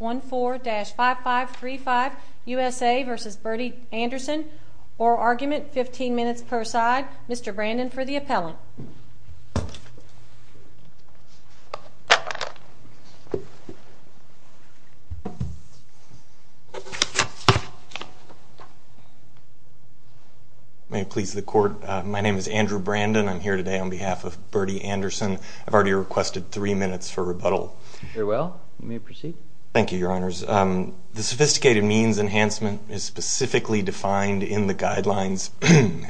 14-5535 USA v. Birdie Anderson. Oral argument, 15 minutes per side. Mr. Brandon for the appellant. May it please the court, my name is Andrew Brandon. I'm here today on behalf of Birdie Anderson. I've already requested three minutes for proceed. Thank you, your honors. The sophisticated means enhancement is specifically defined in the guidelines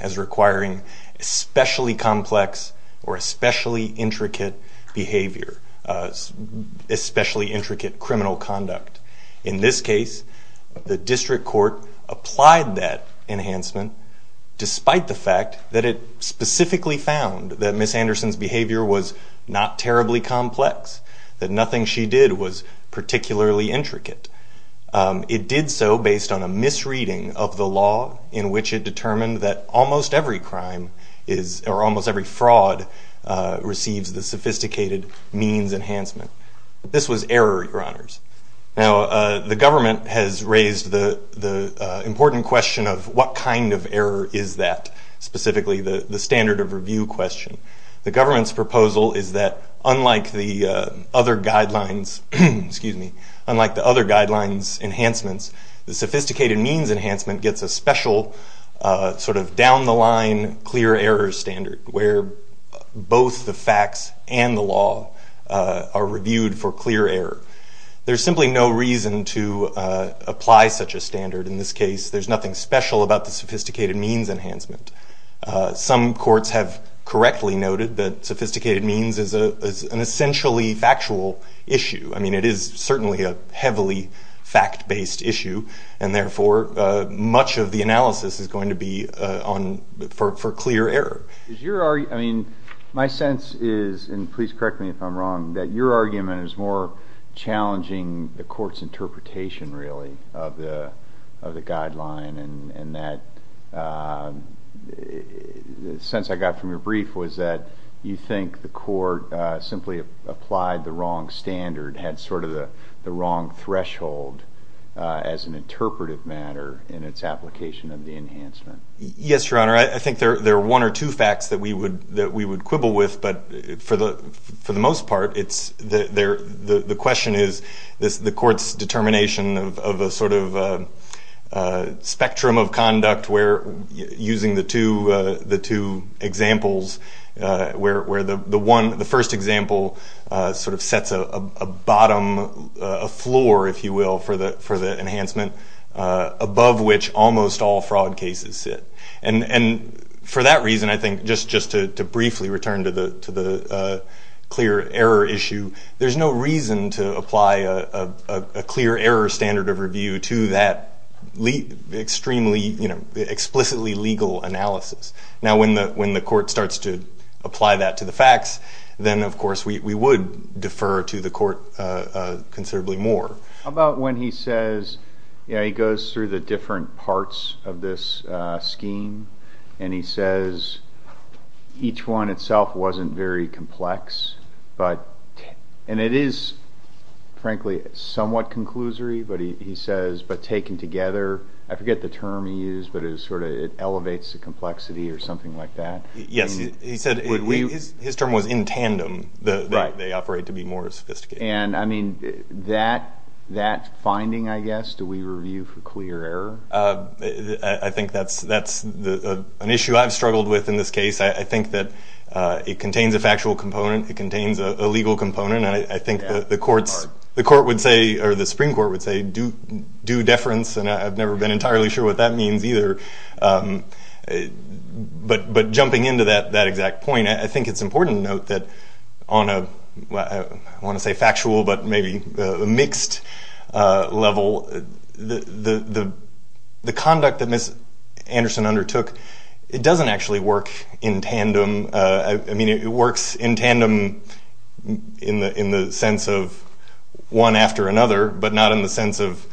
as requiring especially complex or especially intricate behavior, especially intricate criminal conduct. In this case, the district court applied that enhancement despite the fact that it specifically found that Ms. Anderson's behavior was not what it did was particularly intricate. It did so based on a misreading of the law in which it determined that almost every crime or almost every fraud receives the sophisticated means enhancement. This was error, your honors. Now, the government has raised the important question of what kind of error is that, specifically the standard of review question. The government's other guidelines, excuse me, unlike the other guidelines enhancements, the sophisticated means enhancement gets a special sort of down the line clear error standard where both the facts and the law are reviewed for clear error. There's simply no reason to apply such a standard. In this case, there's nothing special about the sophisticated means enhancement. Some courts have correctly noted that sophisticated means is an essentially factual issue. I mean, it is certainly a heavily fact-based issue, and therefore, much of the analysis is going to be for clear error. My sense is, and please correct me if I'm wrong, that your argument is more challenging the guideline, and that the sense I got from your brief was that you think the court simply applied the wrong standard, had sort of the wrong threshold as an interpretive matter in its application of the enhancement. Yes, your honor. I think there are one or two facts that we would quibble with, but for the most part, the question is the court's determination of a sort of spectrum of conduct where, using the two examples, where the first example sort of sets a bottom, a floor, if you will, for the enhancement, above which almost all fraud cases sit. And for that reason, I think, just to briefly return to the clear error issue, there's no reason to apply a clear error standard of review to that explicitly legal analysis. Now, when the court starts to apply that to the facts, then, of course, we would defer to the court considerably more. How about when he says, you know, he goes through the different parts of this scheme, and he says each one itself wasn't very complex, and it is, frankly, somewhat conclusory, but he says, but taken together, I forget the term he used, but it sort of elevates the complexity or something like that. Yes, he said his term was in tandem. Right. They operate to be more sophisticated. And, I mean, that finding, I guess, do we review for clear error? I think that's an issue I've struggled with in this case. I think that it contains a factual component. It contains a legal component. And I think the courts, the court would say, or the Supreme Court would say, do deference. And I've never been entirely sure what that means either. But jumping into that exact point, I think it's important to note that on a, I want to say, factual but maybe mixed level, the conduct that Ms. Anderson undertook, it doesn't actually work in tandem. I mean, it works in tandem in the sense of one after another, but not in the sense of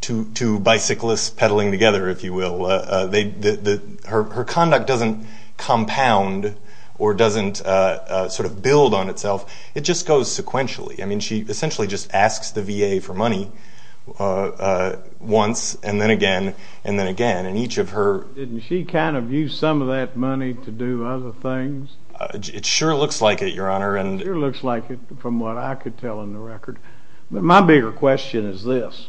two bicyclists peddling together, if you will. Her conduct doesn't compound or doesn't sort of build on itself. It just goes sequentially. I mean, she essentially just asks the VA for money once and then again and then again. And each of her – Didn't she kind of use some of that money to do other things? It sure looks like it, Your Honor. It sure looks like it from what I could tell in the record. But my bigger question is this.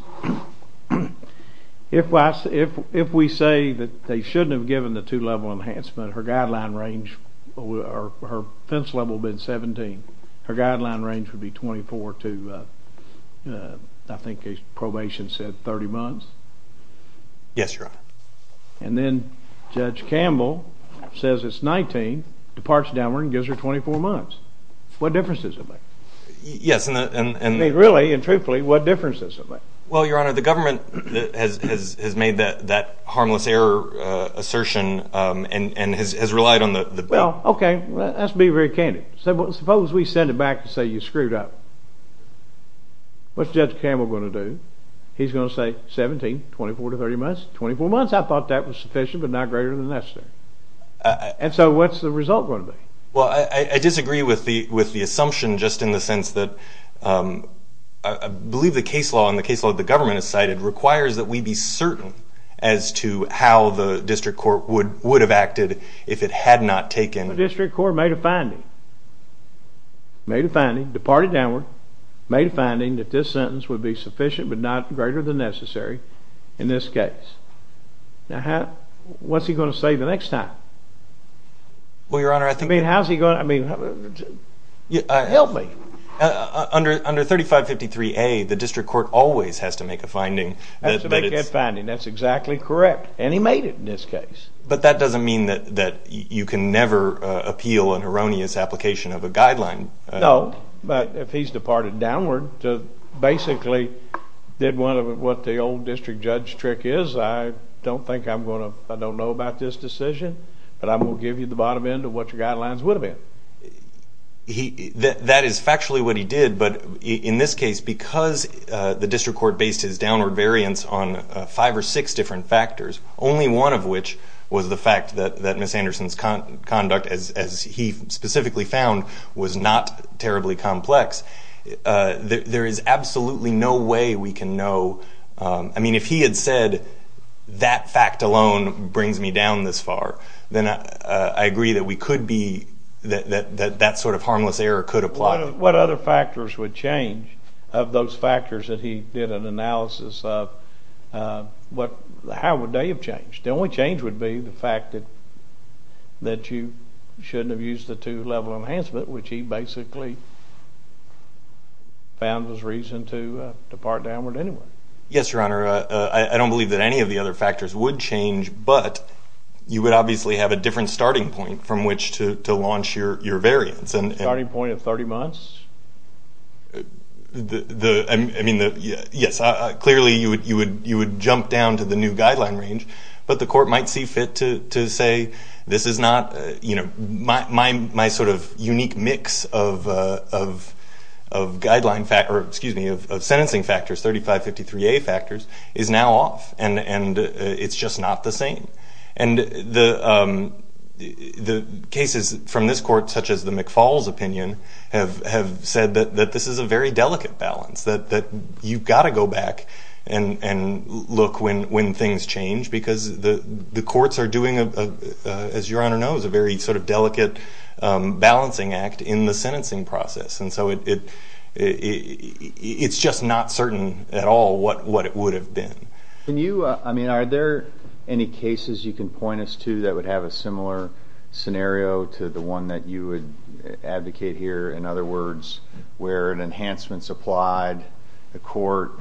If we say that they shouldn't have given the two-level enhancement, her guideline range, her offense level would have been 17. Her guideline range would be 24 to, I think his probation said 30 months. Yes, Your Honor. And then Judge Campbell says it's 19, departs downward and gives her 24 months. What difference does it make? Yes, and – I mean, really and truthfully, what difference does it make? Well, Your Honor, the government has made that harmless error assertion and has relied on the – Well, okay, let's be very candid. Suppose we send it back to say you screwed up. What's Judge Campbell going to do? He's going to say 17, 24 to 30 months. 24 months, I thought that was sufficient but not greater than necessary. And so what's the result going to be? Well, I disagree with the assumption just in the sense that I believe the case law and the case law that the government has cited requires that we be certain as to how the district court would have acted if it had not taken – The district court made a finding, made a finding, departed downward, made a finding that this sentence would be sufficient but not greater than necessary in this case. Now, what's he going to say the next time? Well, Your Honor, I think – I mean, how's he going to – I mean, help me. Under 3553A, the district court always has to make a finding that it's – makes a finding that's exactly correct, and he made it in this case. But that doesn't mean that you can never appeal an erroneous application of a guideline. No, but if he's departed downward to basically did what the old district judge trick is, I don't think I'm going to – I don't know about this decision, but I'm going to give you the bottom end of what your guidelines would have been. That is factually what he did, but in this case, because the district court based his downward variance on five or six different factors, only one of which was the fact that Ms. Anderson's conduct, as he specifically found, was not terribly complex, there is absolutely no way we can know – I mean, if he had said that fact alone brings me down this far, then I agree that we could be – that that sort of harmless error could apply. What other factors would change of those factors that he did an analysis of? What – how would they have changed? The only change would be the fact that you shouldn't have used the two-level enhancement, which he basically found was reason to depart downward anyway. Yes, Your Honor. I don't believe that any of the other factors would change, but you would obviously have a different starting point from which to launch your variance. A starting point of 30 months? I mean, yes, clearly you would jump down to the new guideline range, but the court might see fit to say this is not – you know, my sort of unique mix of guideline – or, excuse me, of sentencing factors, 3553A factors, is now off, and it's just not the same. And the cases from this court, such as the McFaul's opinion, have said that this is a very delicate balance, that you've got to go back and look when things change, because the courts are doing, as Your Honor knows, a very sort of delicate balancing act in the sentencing process, and so it's just not certain at all what it would have been. Can you – I mean, are there any cases you can point us to that would have a similar scenario to the one that you would advocate here? In other words, where an enhancement's applied, the court,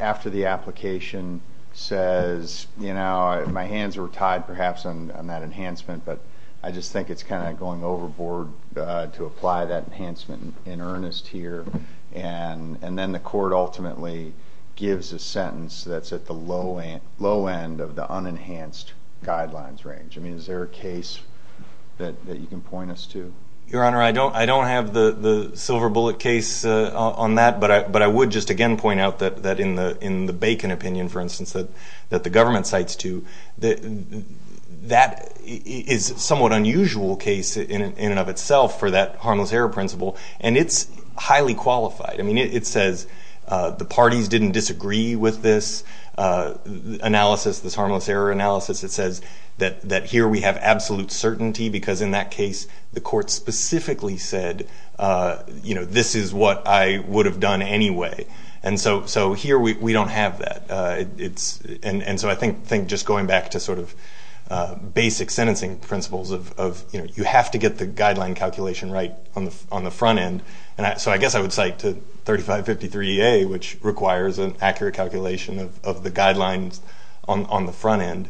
after the application, says, you know, my hands were tied perhaps on that enhancement, but I just think it's kind of going overboard to apply that enhancement in earnest here, and then the court ultimately gives a sentence that's at the low end of the unenhanced guidelines range. I mean, is there a case that you can point us to? Your Honor, I don't have the silver bullet case on that, but I would just again point out that in the Bacon opinion, for instance, that the government cites too, that is a somewhat unusual case in and of itself for that harmless error principle, and it's highly qualified. I mean, it says the parties didn't disagree with this analysis, this harmless error analysis. It says that here we have absolute certainty because in that case, the court specifically said, you know, this is what I would have done anyway, and so here we don't have that. And so I think just going back to sort of basic sentencing principles of, you know, trying to get the guideline calculation right on the front end, so I guess I would cite to 3553EA, which requires an accurate calculation of the guidelines on the front end,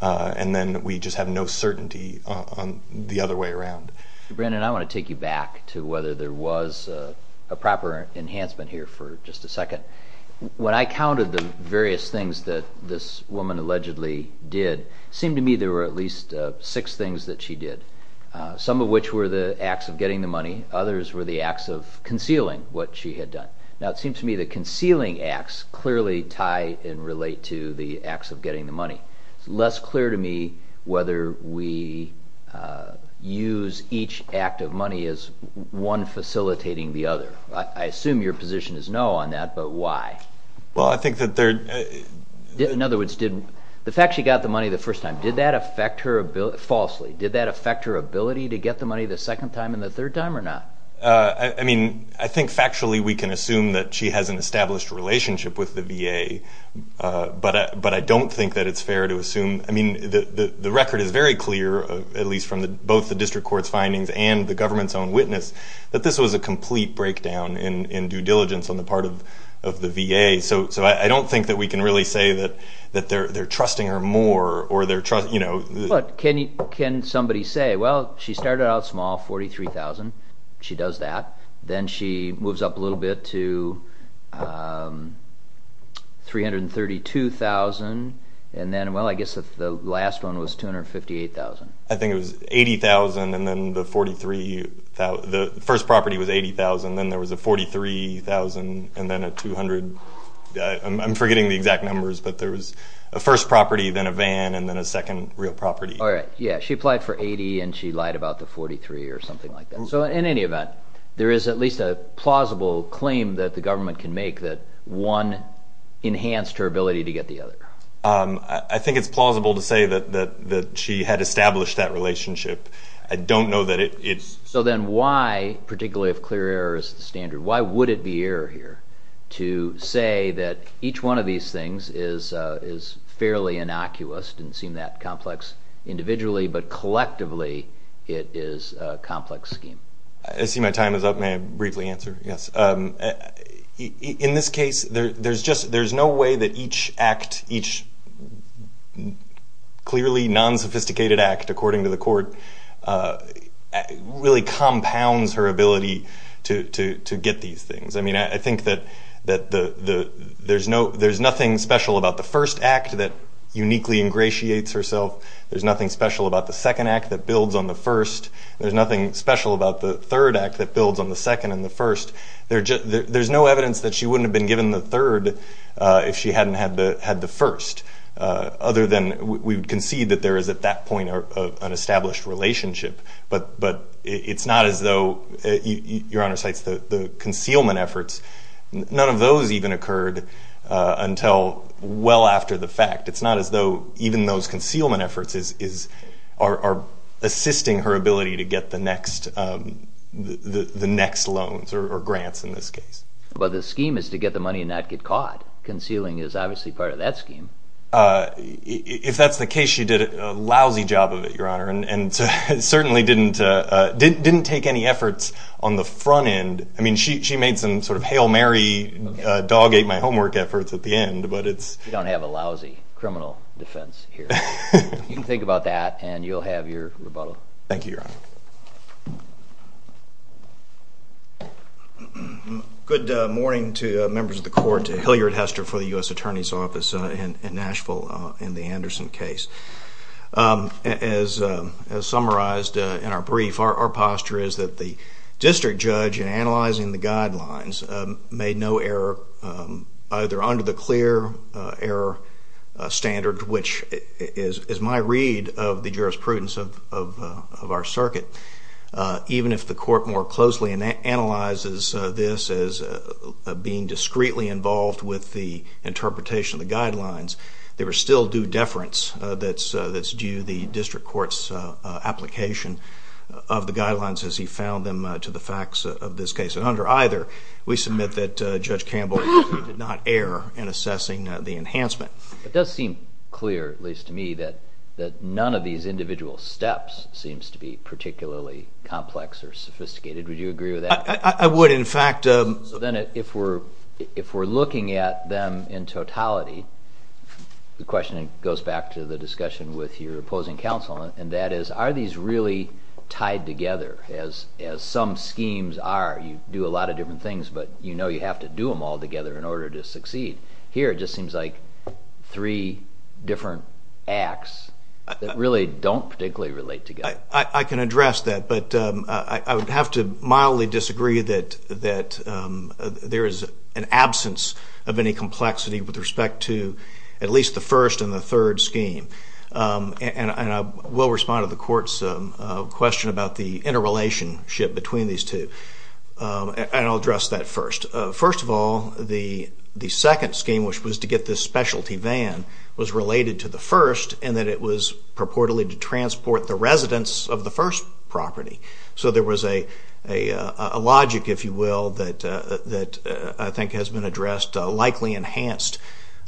and then we just have no certainty on the other way around. Brandon, I want to take you back to whether there was a proper enhancement here for just a second. When I counted the various things that this woman allegedly did, it seemed to me there were at least six things that she did, some of which were the acts of getting the money, others were the acts of concealing what she had done. Now, it seems to me that concealing acts clearly tie and relate to the acts of getting the money. It's less clear to me whether we use each act of money as one facilitating the other. I assume your position is no on that, but why? Well, I think that there— In other words, the fact she got the money the first time, did that affect her ability— falsely, did that affect her ability to get the money the second time and the third time or not? I mean, I think factually we can assume that she has an established relationship with the VA, but I don't think that it's fair to assume—I mean, the record is very clear, at least from both the district court's findings and the government's own witness, that this was a complete breakdown in due diligence on the part of the VA, so I don't think that we can really say that they're trusting her more or they're— But can somebody say, well, she started out small, $43,000. She does that. Then she moves up a little bit to $332,000, and then, well, I guess the last one was $258,000. I think it was $80,000, and then the first property was $80,000, and then there was a $43,000, and then a $200,000. I'm forgetting the exact numbers, but there was a first property, then a van, and then a second real property. All right. Yeah, she applied for $80,000, and she lied about the $43,000 or something like that. So in any event, there is at least a plausible claim that the government can make that one enhanced her ability to get the other. I think it's plausible to say that she had established that relationship. I don't know that it's— So then why, particularly if clear error is the standard, why would it be error here to say that each one of these things is fairly innocuous, doesn't seem that complex individually, but collectively it is a complex scheme? I see my time is up. May I briefly answer? Yes. In this case, there's no way that each act, each clearly non-sophisticated act, according to the court, really compounds her ability to get these things. I mean, I think that there's nothing special about the first act that uniquely ingratiates herself. There's nothing special about the second act that builds on the first. There's nothing special about the third act that builds on the second and the first. There's no evidence that she wouldn't have been given the third if she hadn't had the first, other than we concede that there is at that point an established relationship. But it's not as though—Your Honor cites the concealment efforts. None of those even occurred until well after the fact. It's not as though even those concealment efforts are assisting her ability to get the next loans or grants in this case. But the scheme is to get the money and not get caught. Concealing is obviously part of that scheme. If that's the case, she did a lousy job of it, Your Honor, and certainly didn't take any efforts on the front end. I mean, she made some sort of hail Mary, dog ate my homework efforts at the end. You don't have a lousy criminal defense here. You can think about that, and you'll have your rebuttal. Thank you, Your Honor. Good morning to members of the court. Hilliard Hester for the U.S. Attorney's Office in Nashville in the Anderson case. As summarized in our brief, our posture is that the district judge, in analyzing the guidelines, made no error either under the clear error standard, which is my read of the jurisprudence of our circuit. Even if the court more closely analyzes this as being discreetly involved with the interpretation of the guidelines, there is still due deference that's due the district court's application of the guidelines as he found them to the facts of this case. And under either, we submit that Judge Campbell did not err in assessing the enhancement. It does seem clear, at least to me, that none of these individual steps seems to be particularly complex or sophisticated. Would you agree with that? I would, in fact. So then if we're looking at them in totality, the question goes back to the discussion with your opposing counsel, and that is, are these really tied together as some schemes are? You do a lot of different things, but you know you have to do them all together in order to succeed. Here it just seems like three different acts that really don't particularly relate together. I can address that, but I would have to mildly disagree that there is an absence of any complexity with respect to at least the first and the third scheme. And I will respond to the court's question about the interrelationship between these two, and I'll address that first. First of all, the second scheme, which was to get this specialty van, was related to the first in that it was purportedly to transport the residents of the first property. So there was a logic, if you will, that I think has been addressed, likely enhanced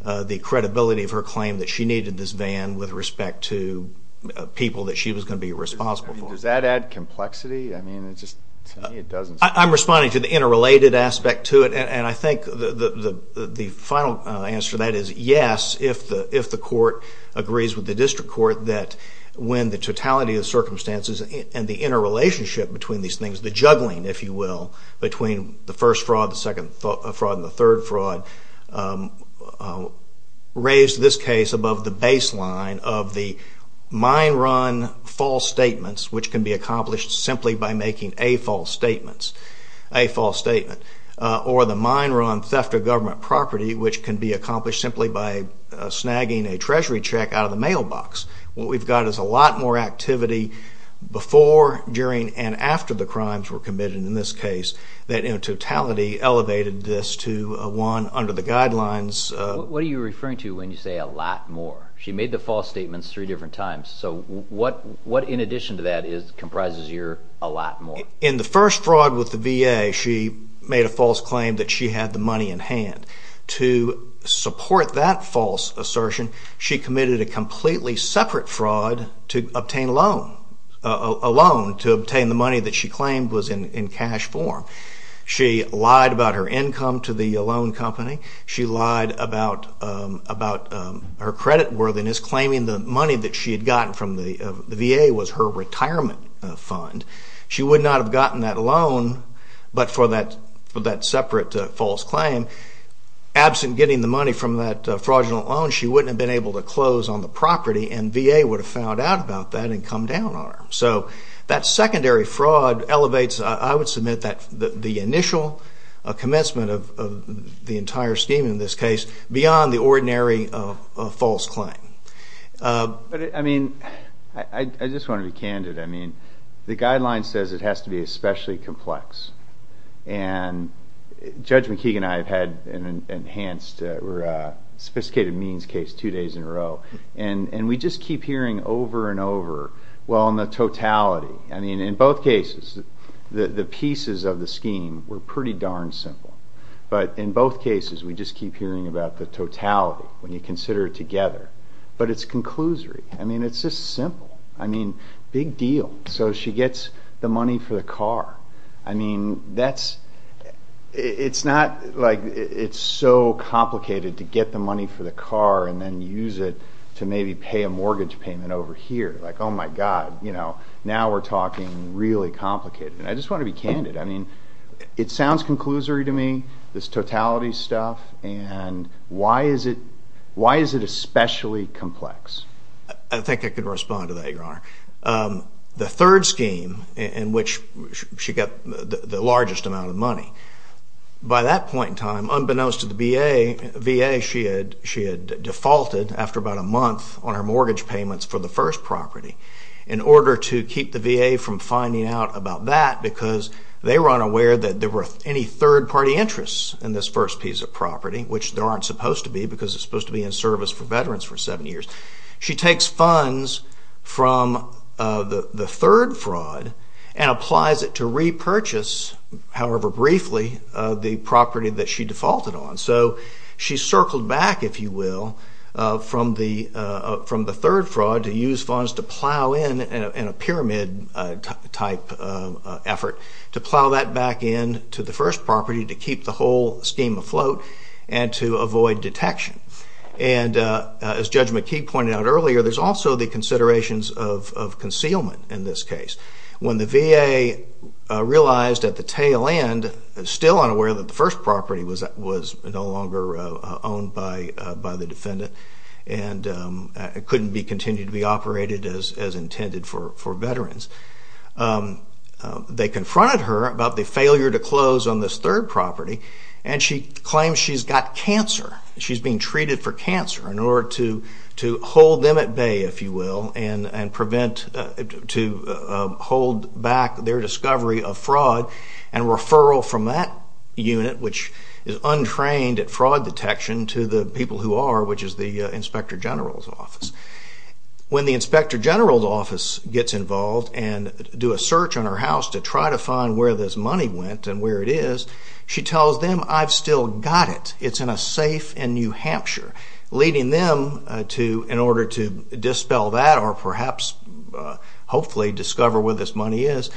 the credibility of her claim that she needed this van with respect to people that she was going to be responsible for. Does that add complexity? I'm responding to the interrelated aspect to it, and I think the final answer to that is yes, if the court agrees with the district court that when the totality of circumstances and the interrelationship between these things, the juggling, if you will, between the first fraud, the second fraud, and the third fraud, raised this case above the baseline of the mine run false statements, which can be accomplished simply by making a false statement, or the mine run theft of government property, which can be accomplished simply by snagging a treasury check out of the mailbox. What we've got is a lot more activity before, during, and after the crimes were committed in this case, that in totality elevated this to one under the guidelines. What are you referring to when you say a lot more? She made the false statements three different times, so what in addition to that comprises your a lot more? In the first fraud with the VA, she made a false claim that she had the money in hand. To support that false assertion, she committed a completely separate fraud to obtain a loan, a loan to obtain the money that she claimed was in cash form. She lied about her income to the loan company. She lied about her credit worthiness, claiming the money that she had gotten from the VA was her retirement fund. She would not have gotten that loan but for that separate false claim. Absent getting the money from that fraudulent loan, she wouldn't have been able to close on the property, and VA would have found out about that and come down on her. So that secondary fraud elevates, I would submit, the initial commencement of the entire scheme in this case beyond the ordinary false claim. I just want to be candid. The guideline says it has to be especially complex. Judge McKeegan and I have had an enhanced sophisticated means case two days in a row, and we just keep hearing over and over on the totality. In both cases, the pieces of the scheme were pretty darn simple, but in both cases, we just keep hearing about the totality when you consider it together. But it's conclusory. I mean, it's just simple. I mean, big deal. So she gets the money for the car. I mean, it's so complicated to get the money for the car and then use it to maybe pay a mortgage payment over here. Like, oh, my God. Now we're talking really complicated. And I just want to be candid. I mean, it sounds conclusory to me, this totality stuff, and why is it especially complex? I think I could respond to that, Your Honor. The third scheme in which she got the largest amount of money, by that point in time, unbeknownst to the VA, she had defaulted after about a month on her mortgage payments for the first property in order to keep the VA from finding out about that because they were unaware that there were any third-party interests in this first piece of property, which there aren't supposed to be because it's supposed to be in service for veterans for seven years. She takes funds from the third fraud and applies it to repurchase, however briefly, the property that she defaulted on. So she circled back, if you will, from the third fraud to use funds to plow in in a pyramid-type effort to plow that back in to the first property to keep the whole scheme afloat and to avoid detection. And as Judge McKee pointed out earlier, there's also the considerations of concealment in this case. When the VA realized at the tail end, still unaware that the first property was no longer owned by the defendant and couldn't continue to be operated as intended for veterans, they confronted her about the failure to close on this third property, and she claims she's got cancer. She's being treated for cancer in order to hold them at bay, if you will, and to hold back their discovery of fraud and referral from that unit, which is untrained at fraud detection, to the people who are, which is the Inspector General's office. When the Inspector General's office gets involved and do a search on her house to try to find where this money went and where it is, she tells them, I've still got it. It's in a safe in New Hampshire, leading them to, in order to dispel that or perhaps hopefully discover where this money is,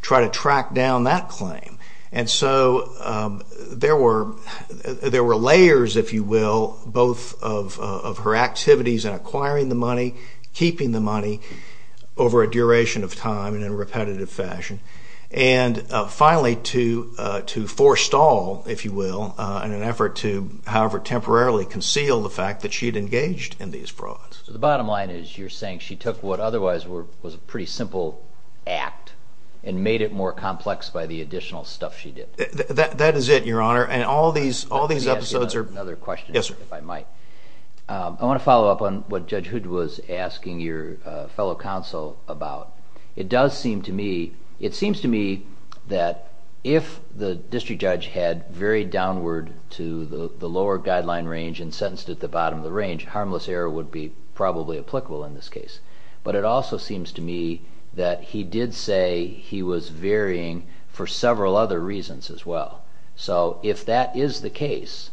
try to track down that claim. And so there were layers, if you will, both of her activities in acquiring the money, keeping the money over a duration of time and in repetitive fashion. And finally, to forestall, if you will, in an effort to however temporarily conceal the fact that she'd engaged in these frauds. So the bottom line is you're saying she took what otherwise was a pretty simple act and made it more complex by the additional stuff she did. That is it, Your Honor, and all these episodes are... Let me ask you another question, if I might. Yes, sir. I want to follow up on what Judge Hood was asking your fellow counsel about. It does seem to me... It seems to me that if the district judge had varied downward to the lower guideline range and sentenced at the bottom of the range, harmless error would be probably applicable in this case. But it also seems to me that he did say he was varying for several other reasons as well. So if that is the case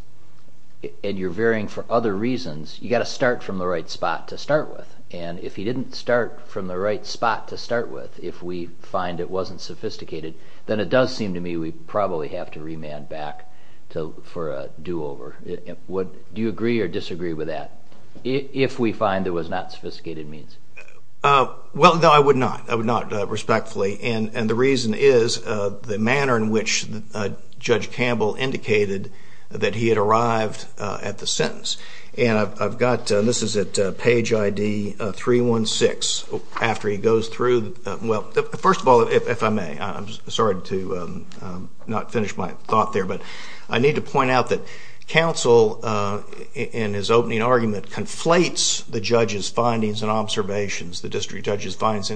and you're varying for other reasons, you've got to start from the right spot to start with. And if he didn't start from the right spot to start with, if we find it wasn't sophisticated, then it does seem to me we probably have to remand back for a do-over. Do you agree or disagree with that, if we find there was not sophisticated means? Well, no, I would not. I would not, respectfully. And the reason is the manner in which Judge Campbell indicated that he had arrived at the sentence. And I've got... This is at page ID 316. After he goes through... Well, first of all, if I may, I'm sorry to not finish my thought there, but I need to point out that counsel in his opening argument conflates the judge's findings and observations, the district judge's findings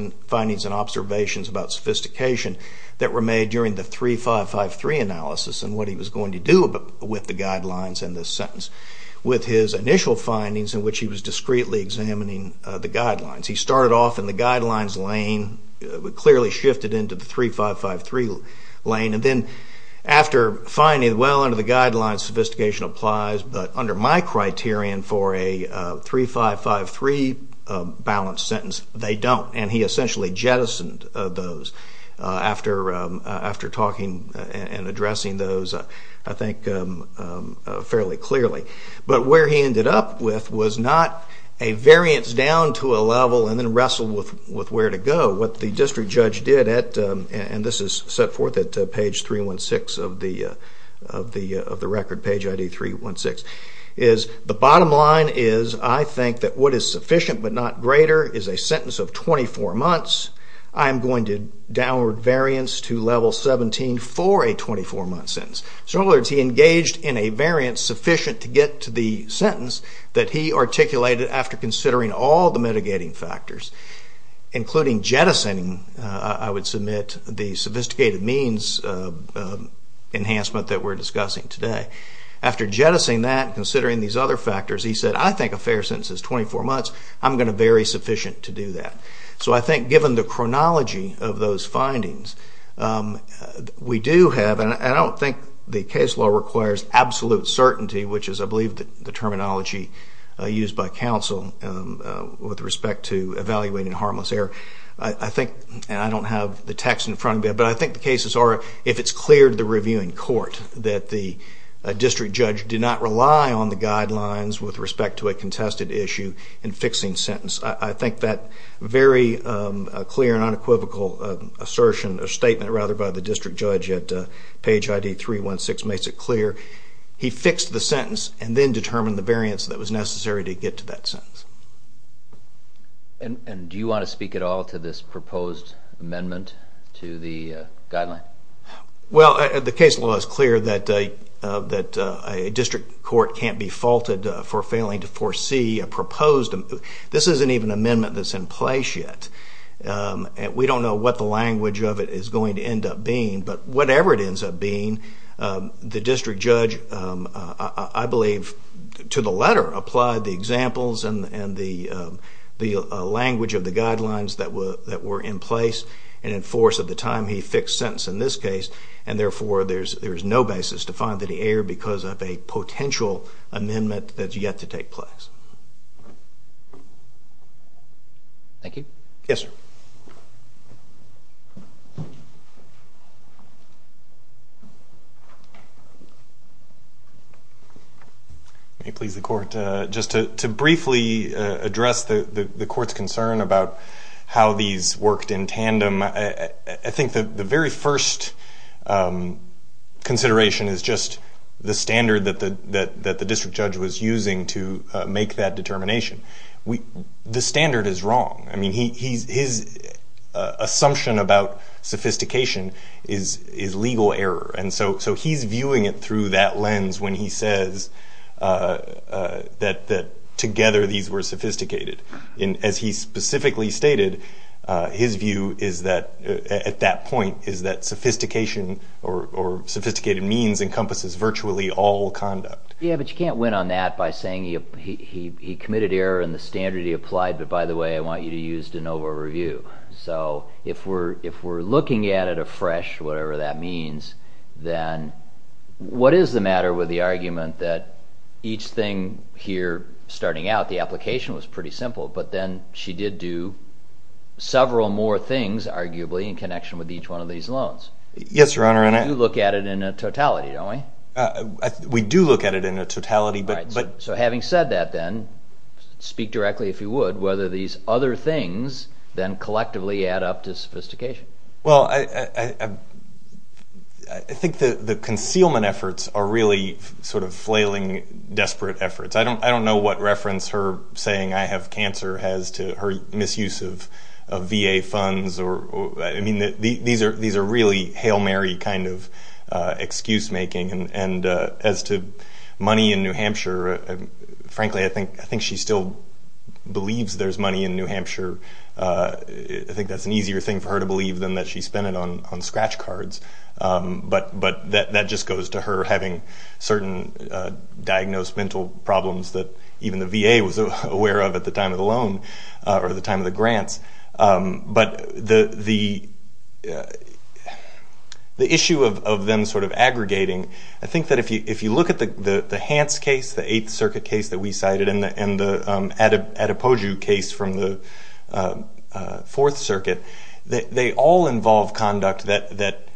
and observations about sophistication that were made during the 3553 analysis and what he was going to do with the guidelines in this sentence with his initial findings in which he was discreetly examining the guidelines. He started off in the guidelines lane, clearly shifted into the 3553 lane, and then after finding, well, under the guidelines sophistication applies, but under my criterion for a 3553 balance sentence, they don't. And he essentially jettisoned those after talking and addressing those, I think, fairly clearly. But where he ended up with was not a variance down to a level and then wrestle with where to go. What the district judge did, and this is set forth at page 316 of the record, page ID 316, is the bottom line is I think that what is sufficient but not greater is a sentence of 24 months. I am going to downward variance to level 17 for a 24-month sentence. In other words, he engaged in a variance sufficient to get to the sentence that he articulated after considering all the mitigating factors, including jettisoning, I would submit, the sophisticated means enhancement that we're discussing today. After jettisoning that, considering these other factors, he said, I think a fair sentence is 24 months. I'm going to vary sufficient to do that. So I think given the chronology of those findings, we do have, and I don't think the case law requires absolute certainty, which is, I believe, the terminology used by counsel with respect to evaluating harmless error. I think, and I don't have the text in front of me, but I think the cases are, if it's clear to the reviewing court that the district judge did not rely on the guidelines with respect to a contested issue in fixing sentence, I think that very clear and unequivocal assertion or statement, rather, by the district judge at page ID 316 makes it clear. He fixed the sentence and then determined the variance that was necessary to get to that sentence. And do you want to speak at all to this proposed amendment to the guideline? Well, the case law is clear that a district court can't be faulted for failing to foresee a proposed, this isn't even an amendment that's in place yet, and we don't know what the language of it is going to end up being, but whatever it ends up being, the district judge, I believe, to the letter, applied the examples and the language of the guidelines that were in place and in force at the time he fixed sentence in this case, and therefore there's no basis to find that he erred because of a potential amendment that's yet to take place. Thank you. Yes, sir. Let me please the court. Just to briefly address the court's concern about how these worked in tandem, I think the very first consideration is just the standard that the district judge was using to make that determination. The standard is wrong. I mean, his assumption about sophistication is legal error, and so he's viewing it through that lens when he says that together these were sophisticated. As he specifically stated, his view at that point is that sophistication or sophisticated means encompasses virtually all conduct. Yes, but you can't win on that by saying he committed error in the standard he applied, but by the way, I want you to use de novo review. So if we're looking at it afresh, whatever that means, then what is the matter with the argument that each thing here starting out, the application was pretty simple, but then she did do several more things arguably in connection with each one of these loans? Yes, Your Honor. We do look at it in a totality, don't we? We do look at it in a totality. So having said that then, speak directly if you would, whether these other things then collectively add up to sophistication. Well, I think the concealment efforts are really sort of flailing, desperate efforts. I don't know what reference her saying I have cancer has to her misuse of VA funds. I mean, these are really Hail Mary kind of excuse making, and as to money in New Hampshire, frankly, I think she still believes there's money in New Hampshire. I think that's an easier thing for her to believe than that she spent it on scratch cards, but that just goes to her having certain diagnosed mental problems that even the VA was aware of at the time of the loan or the time of the grants. But the issue of them sort of aggregating, I think that if you look at the Hance case, the Eighth Circuit case that we cited and the Adepoju case from the Fourth Circuit, they all involve conduct that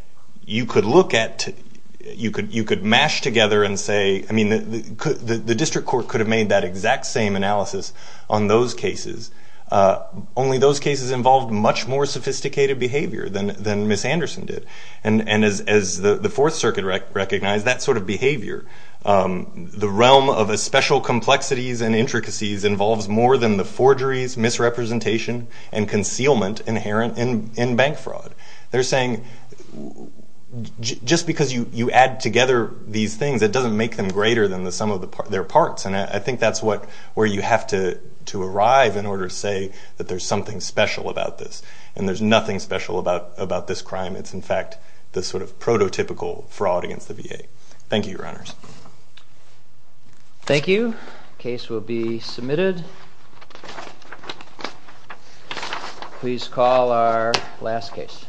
you could look at, you could mash together and say, I mean, the district court could have made that exact same analysis on those cases, only those cases involved much more sophisticated behavior than Ms. Anderson did. And as the Fourth Circuit recognized, that sort of behavior, the realm of a special complexities and intricacies involves more than the forgeries, misrepresentation, and concealment inherent in bank fraud. They're saying just because you add together these things, it doesn't make them greater than the sum of their parts. And I think that's where you have to arrive in order to say that there's something special about this. And there's nothing special about this crime. It's, in fact, the sort of prototypical fraud against the VA. Thank you, Your Honors. Thank you. Case will be submitted. Please call our last case.